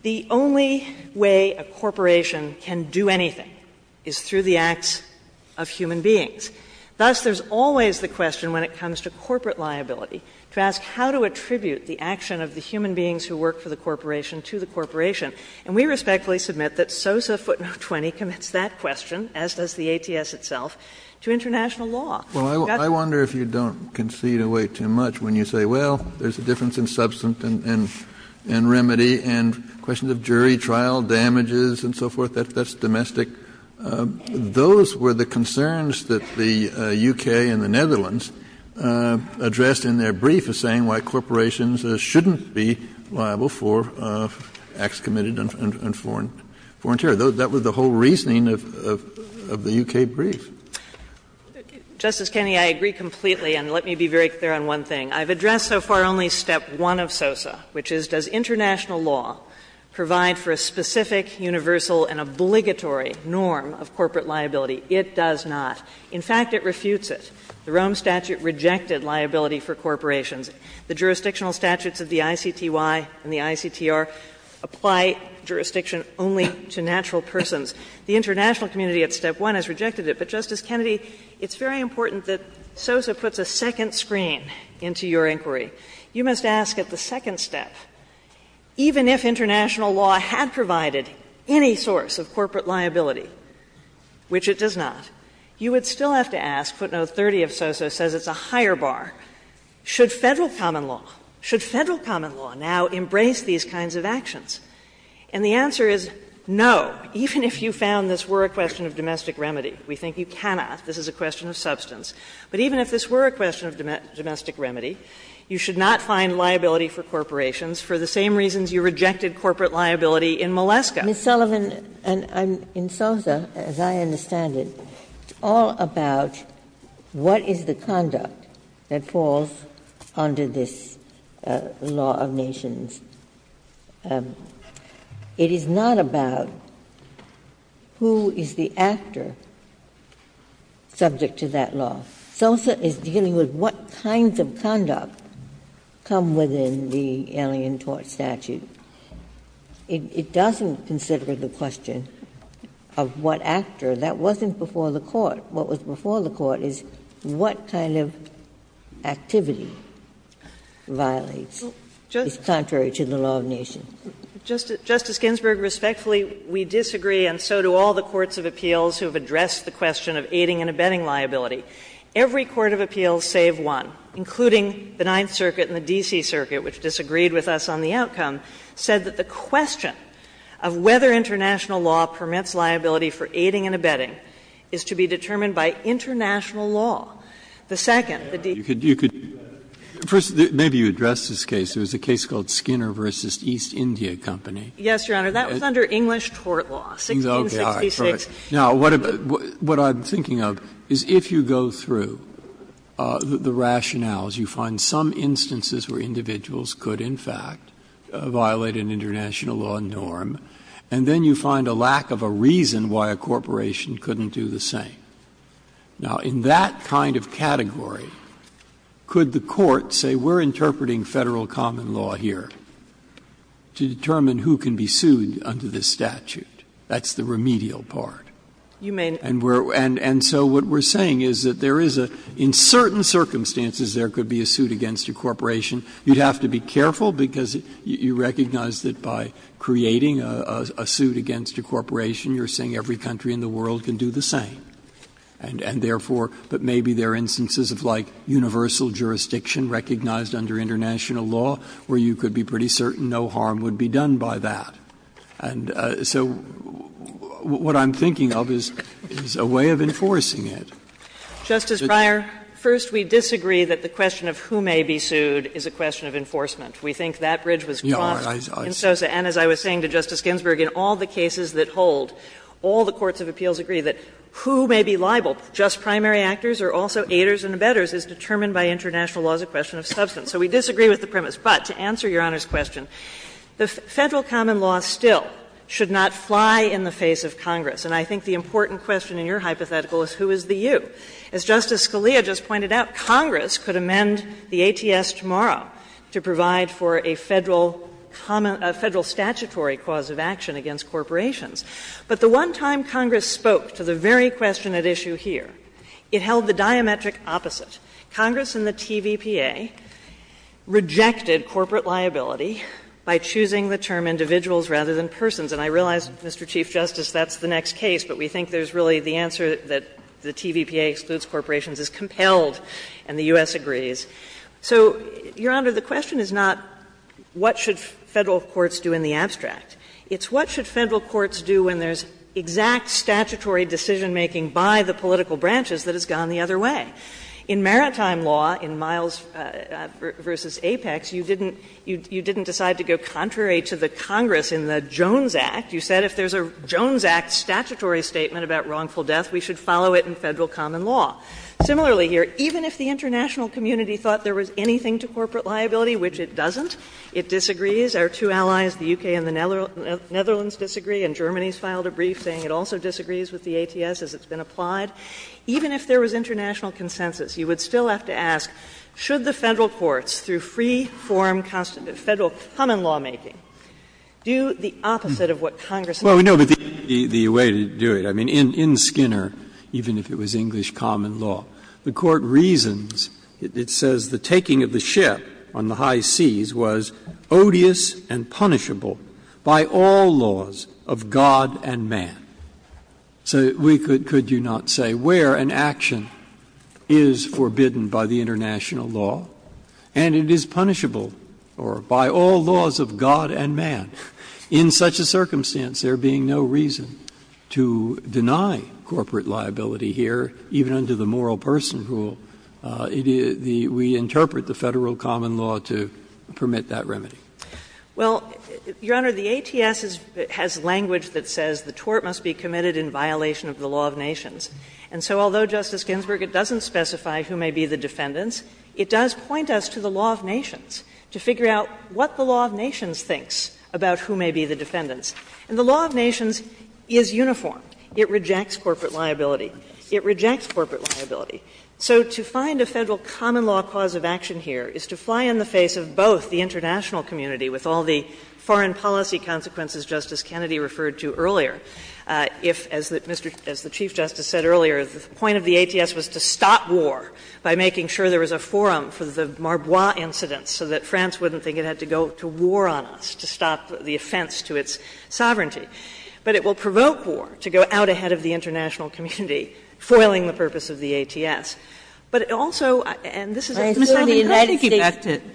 the only way a corporation can do anything is through the acts of human beings. Thus, there's always the question when it comes to corporate liability to ask how to attribute the action of the human beings who work for the corporation to the corporation. And we respectfully submit that SOSA footnote 20 commits that question, as does the ATS itself, to international law. Kennedy, I wonder if you don't concede away too much when you say, well, there's a difference in substance and remedy and questions of jury trial damages and so forth. That's domestic. Those were the concerns that the U.K. and the Netherlands addressed in their brief saying why corporations shouldn't be liable for acts committed in foreign territory. That was the whole reasoning of the U.K. brief. Justice Kennedy, I agree completely. And let me be very clear on one thing. I've addressed so far only step one of SOSA, which is, does international law provide for a specific, universal and obligatory norm of corporate liability? It does not. In fact, it refutes it. The Rome statute rejected liability for corporations. The jurisdictional statutes of the ICTY and the ICTR apply jurisdiction only to natural persons. The international community at step one has rejected it. But, Justice Kennedy, it's very important that SOSA puts a second screen into your inquiry. You must ask at the second step, even if international law had provided any source of corporate liability, which it does not, you would still have to ask footnote 30 of SOSA says it's a higher bar. Should Federal common law, should Federal common law now embrace these kinds of actions? And the answer is no, even if you found this were a question of domestic remedy. We think you cannot. This is a question of substance. But even if this were a question of domestic remedy, you should not find liability for corporations for the same reasons you rejected corporate liability in Maleska. Ms. Sullivan, in SOSA, as I understand it, it's all about what is the conduct that falls under this law of nations. It is not about who is the actor subject to that law. SOSA is dealing with what kinds of conduct come within the Alien Tort Statute. It doesn't consider the question of what actor. That wasn't before the Court. What was before the Court is what kind of activity violates, is contrary to the law of nations. Justice Ginsburg, respectfully, we disagree, and so do all the courts of appeals who have addressed the question of aiding and abetting liability. Every court of appeals, save one, including the Ninth Circuit and the D.C. Circuit, which disagreed with us on the outcome, said that the question of whether international law permits liability for aiding and abetting is to be determined by international law. The second, the D.C. Circuit. Breyer, you could do that. First, maybe you address this case. There was a case called Skinner v. East India Company. Yes, Your Honor. That was under English tort law, 1666. Okay. All right. Now, what I'm thinking of is if you go through the rationales, you find some instances where individuals could, in fact, violate an international law norm, and then you find a lack of a reason why a corporation couldn't do the same. Now, in that kind of category, could the Court say we're interpreting Federal common law here to determine who can be sued under this statute? That's the remedial part. You may not. And so what we're saying is that there is a – in certain circumstances, there could be a suit against a corporation. You'd have to be careful because you recognize that by creating a suit against a corporation, you're saying every country in the world can do the same. And therefore, but maybe there are instances of, like, universal jurisdiction recognized under international law where you could be pretty certain no harm would be done by that. And so what I'm thinking of is a way of enforcing it. Justice Breyer, first, we disagree that the question of who may be sued is a question of enforcement. We think that bridge was crossed in Sosa. And as I was saying to Justice Ginsburg, in all the cases that hold, all the courts of appeals agree that who may be liable, just primary actors or also aiders and abettors, is determined by international law as a question of substance. So we disagree with the premise. But to answer Your Honor's question, the Federal common law still should not fly in the face of Congress. And I think the important question in your hypothetical is who is the you? As Justice Scalia just pointed out, Congress could amend the ATS tomorrow to provide for a Federal common — a Federal statutory cause of action against corporations. But the one time Congress spoke to the very question at issue here, it held the diametric opposite. Congress and the TVPA rejected corporate liability by choosing the term individuals rather than persons. And I realize, Mr. Chief Justice, that's the next case, but we think there's really the answer that the TVPA excludes corporations is compelled and the U.S. agrees. So, Your Honor, the question is not what should Federal courts do in the abstract. It's what should Federal courts do when there's exact statutory decision-making by the political branches that has gone the other way. In maritime law, in Miles v. Apex, you didn't — you didn't decide to go contrary to the Congress in the Jones Act. You said if there's a Jones Act statutory statement about wrongful death, we should follow it in Federal common law. Similarly here, even if the international community thought there was anything to corporate liability, which it doesn't, it disagrees. Our two allies, the U.K. and the Netherlands, disagree, and Germany's filed a brief saying it also disagrees with the ATS as it's been applied. Even if there was international consensus, you would still have to ask, should the Court do the opposite of what Congress did? Well, no, but the way to do it, I mean, in Skinner, even if it was English common law, the Court reasons, it says the taking of the ship on the high seas was odious and punishable by all laws of God and man. So we could — could you not say where an action is forbidden by the international law and it is punishable or by all laws of God and man? In such a circumstance, there being no reason to deny corporate liability here, even under the moral person rule, we interpret the Federal common law to permit that remedy. Well, Your Honor, the ATS has language that says the tort must be committed in violation of the law of nations. And so although, Justice Ginsburg, it doesn't specify who may be the defendants, it does point us to the law of nations to figure out what the law of nations thinks about who may be the defendants. And the law of nations is uniform. It rejects corporate liability. It rejects corporate liability. So to find a Federal common law cause of action here is to fly in the face of both the international community, with all the foreign policy consequences Justice Kennedy referred to earlier, if, as the Chief Justice said earlier, the point of the forum for the Marbois incidents, so that France wouldn't think it had to go to war on us to stop the offense to its sovereignty. But it will provoke war to go out ahead of the international community, foiling the purpose of the ATS. But also, and this is a misogynistic effect to it. Ginsburg,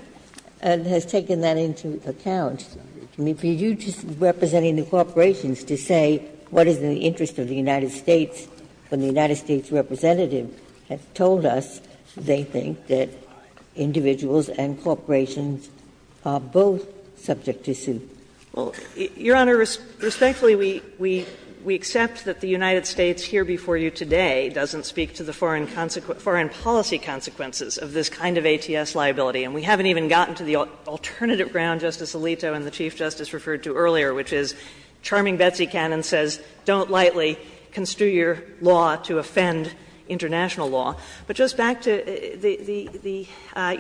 and has taken that into account. I mean, for you just representing the corporations to say what is in the interest of the United States when the United States representative has told us they think that individuals and corporations are both subject to suit? Well, Your Honor, respectfully, we accept that the United States here before you today doesn't speak to the foreign policy consequences of this kind of ATS liability. And we haven't even gotten to the alternative ground Justice Alito and the Chief Justice having Betsy Cannon says don't lightly construe your law to offend international law. But just back to the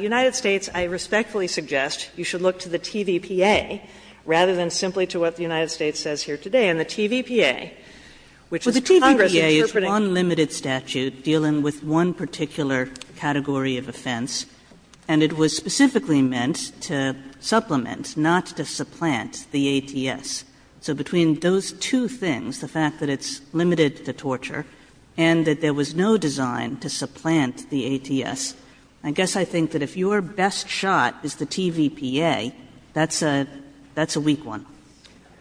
United States, I respectfully suggest you should look to the TVPA rather than simply to what the United States says here today. And the TVPA, which is Congress interpreting. But the TVPA is one limited statute dealing with one particular category of offense. And it was specifically meant to supplement, not to supplant, the ATS. So between those two things, the fact that it's limited to torture and that there was no design to supplant the ATS, I guess I think that if your best shot is the TVPA, that's a weak one.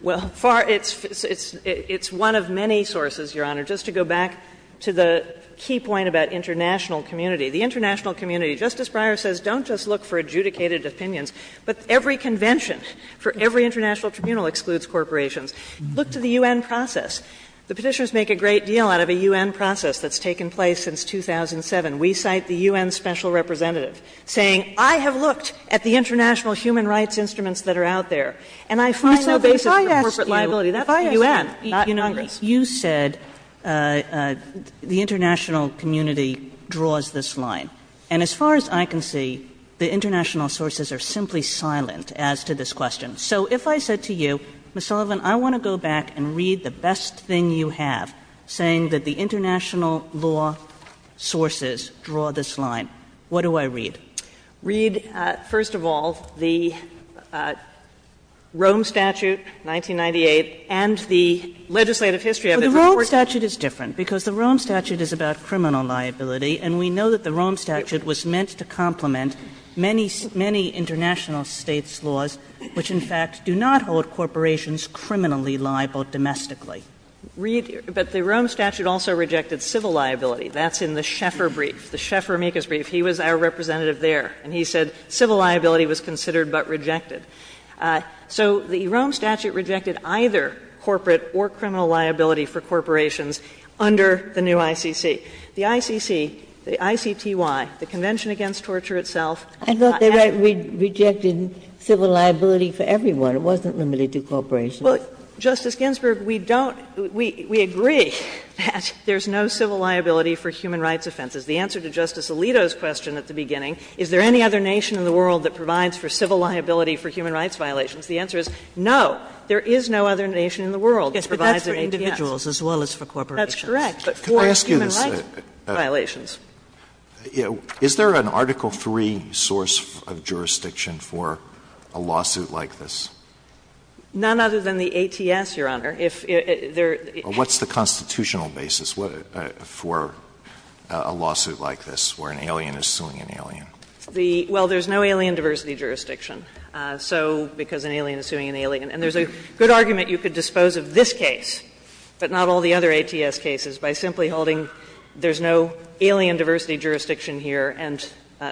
Well, it's one of many sources, Your Honor. Just to go back to the key point about international community, the international community, Justice Breyer says don't just look for adjudicated opinions, but every international tribunal excludes corporations. Look to the U.N. process. The Petitioners make a great deal out of a U.N. process that's taken place since 2007. We cite the U.N. special representative saying I have looked at the international human rights instruments that are out there, and I find no basis for corporate liability. That's the U.N., not Congress. You said the international community draws this line. And as far as I can see, the international sources are simply silent as to this question. So if I said to you, Ms. Sullivan, I want to go back and read the best thing you have, saying that the international law sources draw this line, what do I read? Sullivan. Read, first of all, the Rome Statute, 1998, and the legislative history of it. But the Rome Statute is different, because the Rome Statute is about criminal liability, and we know that the Rome Statute was meant to complement many, many international States' laws, which, in fact, do not hold corporations criminally liable domestically. Read, but the Rome Statute also rejected civil liability. That's in the Schaeffer brief, the Schaeffer-Meekers brief. He was our representative there, and he said civil liability was considered but rejected. So the Rome Statute rejected either corporate or criminal liability for corporations under the new ICC. The ICC, the ICTY, the Convention Against Torture itself. I thought they rejected civil liability for everyone. It wasn't limited to corporations. Well, Justice Ginsburg, we don't we agree that there's no civil liability for human rights offenses. The answer to Justice Alito's question at the beginning, is there any other nation in the world that provides for civil liability for human rights violations, the answer is no. There is no other nation in the world that provides for ATMs. But that's for individuals as well as for corporations. That's correct. But for human rights violations. Alito, is there an article 3 source of jurisdiction for a lawsuit like this? None other than the ATS, Your Honor. If there is a lawsuit like this, where an alien is suing an alien. Well, there's no alien diversity jurisdiction, so because an alien is suing an alien. And there's a good argument you could dispose of this case, but not all the other cases, by simply holding there's no alien diversity jurisdiction here and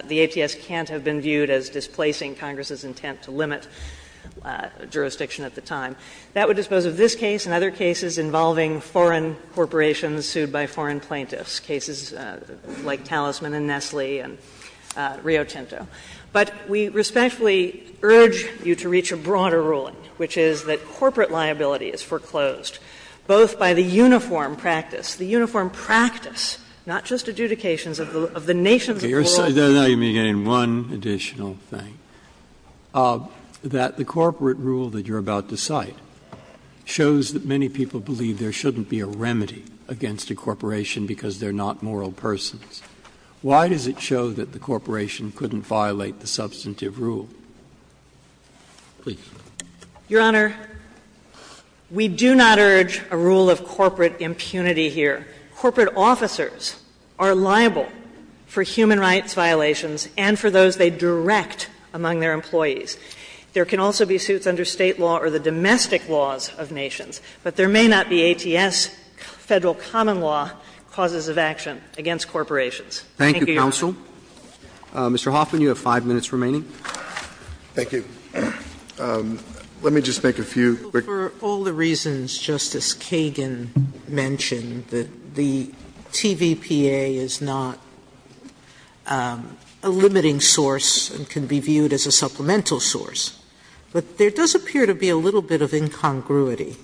the ATS can't have been viewed as displacing Congress's intent to limit jurisdiction at the time. That would dispose of this case and other cases involving foreign corporations sued by foreign plaintiffs, cases like Talisman and Nestle and Rio Tinto. But we respectfully urge you to reach a broader ruling, which is that corporate liability is foreclosed, both by the uniform practice, the uniform practice, not just adjudications of the nations of the world. Now you're getting one additional thing, that the corporate rule that you're about to cite shows that many people believe there shouldn't be a remedy against a corporation because they're not moral persons. Why does it show that the corporation couldn't violate the substantive rule? Please. Your Honor, we do not urge a rule of corporate impunity here. Corporate officers are liable for human rights violations and for those they direct among their employees. There can also be suits under State law or the domestic laws of nations, but there may not be ATS, Federal common law, causes of action against corporations. Thank you, Your Honor. Roberts. Mr. Hoffman, you have 5 minutes remaining. Thank you. Let me just make a few quick comments. Sotomayor For all the reasons Justice Kagan mentioned, that the TVPA is not a limiting source and can be viewed as a supplemental source, but there does appear to be a little bit of incongruity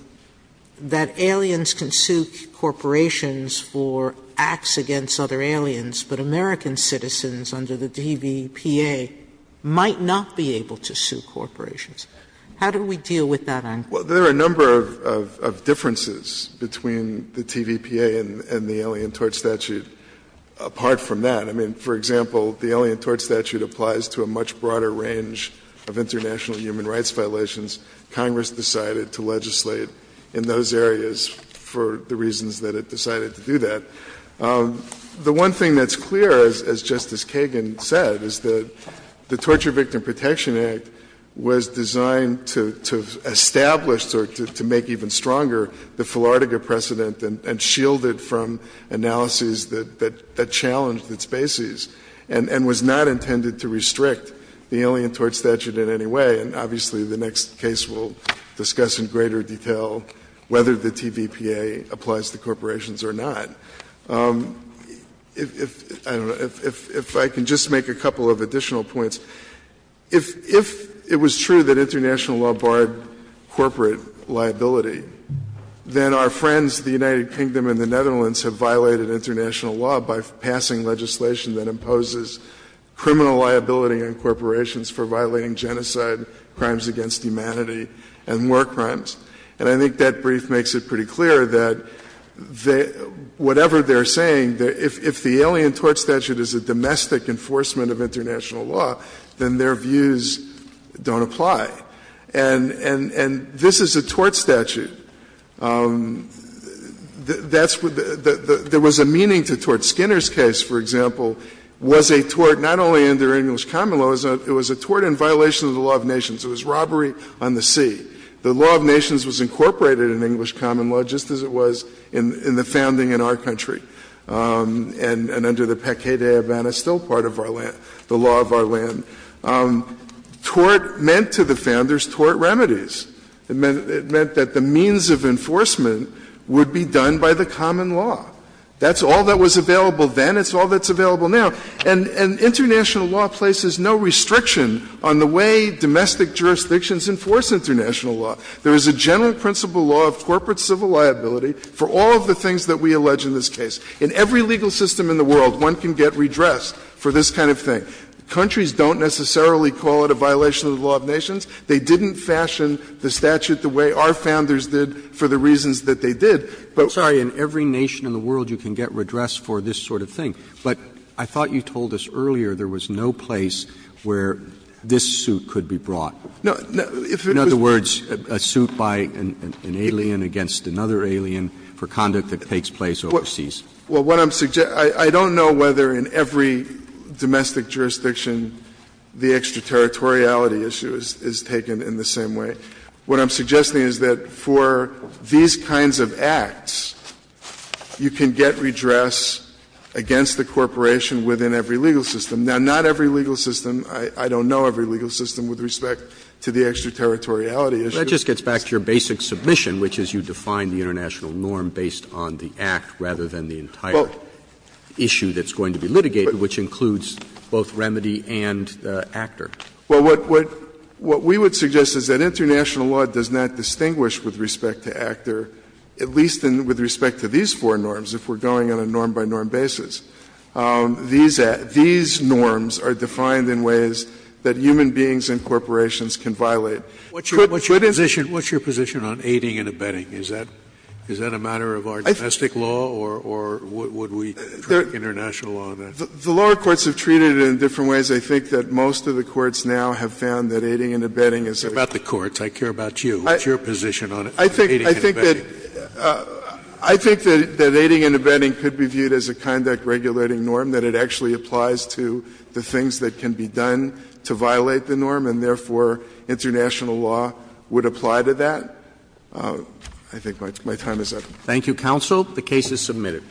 that aliens can sue corporations for acts against other aliens, but American citizens under the TVPA might not be able to sue corporations. How do we deal with that angle? Well, there are a number of differences between the TVPA and the Alien Tort Statute apart from that. I mean, for example, the Alien Tort Statute applies to a much broader range of international human rights violations. Congress decided to legislate in those areas for the reasons that it decided to do that. The one thing that's clear, as Justice Kagan said, is that the Torture Victim Protection Act was designed to establish or to make even stronger the Philardega precedent and shield it from analyses that challenged its bases, and was not intended to restrict the Alien Tort Statute in any way. And obviously, the next case we'll discuss in greater detail, whether the TVPA applies to corporations or not. If I can just make a couple of additional points. If it was true that international law barred corporate liability, then our friends, the United Kingdom and the Netherlands, have violated international law by passing legislation that imposes criminal liability on corporations for violating genocide, crimes against humanity, and war crimes. And I think that brief makes it pretty clear that whatever they're saying, if the Alien Tort Statute is a domestic enforcement of international law, then their views don't apply. And this is a tort statute. That's what the ‑‑ there was a meaning to tort. Skinner's case, for example, was a tort not only under English common law, it was a tort in violation of the law of nations. It was robbery on the sea. The law of nations was incorporated in English common law, just as it was in the founding in our country. And under the Peque de Havana, still part of our land, the law of our land. Tort meant to the Founders, tort remedies. It meant that the means of enforcement would be done by the common law. That's all that was available then, it's all that's available now. And international law places no restriction on the way domestic jurisdictions enforce international law. There is a general principle law of corporate civil liability for all of the things that we allege in this case. In every legal system in the world, one can get redressed for this kind of thing. Countries don't necessarily call it a violation of the law of nations. They didn't fashion the statute the way our Founders did for the reasons that they did. But— Roberts. In every nation in the world, you can get redressed for this sort of thing. But I thought you told us earlier there was no place where this suit could be brought. In other words, a suit by an alien against another alien for conduct that takes place overseas. Well, what I'm suggesting — I don't know whether in every domestic jurisdiction the extraterritoriality issue is taken in the same way. What I'm suggesting is that for these kinds of acts, you can get redressed against the corporation within every legal system. Now, not every legal system, I don't know every legal system with respect to the extraterritoriality issue. But that just gets back to your basic submission, which is you define the international norm based on the act rather than the entire issue that's going to be litigated, which includes both remedy and the actor. Well, what we would suggest is that international law does not distinguish with respect to actor, at least with respect to these four norms, if we're going on a norm-by-norm basis. These norms are defined in ways that human beings and corporations can violate. Scalia, what's your position on aiding and abetting? Is that a matter of our domestic law, or would we try international law on that? The lower courts have treated it in different ways. I think that most of the courts now have found that aiding and abetting is a condition. What about the courts? What's your position on aiding and abetting? I think that aiding and abetting could be viewed as a conduct-regulating norm, that it actually applies to the things that can be done to violate the norm, and therefore international law would apply to that. I think my time is up. Thank you, counsel. The case is submitted.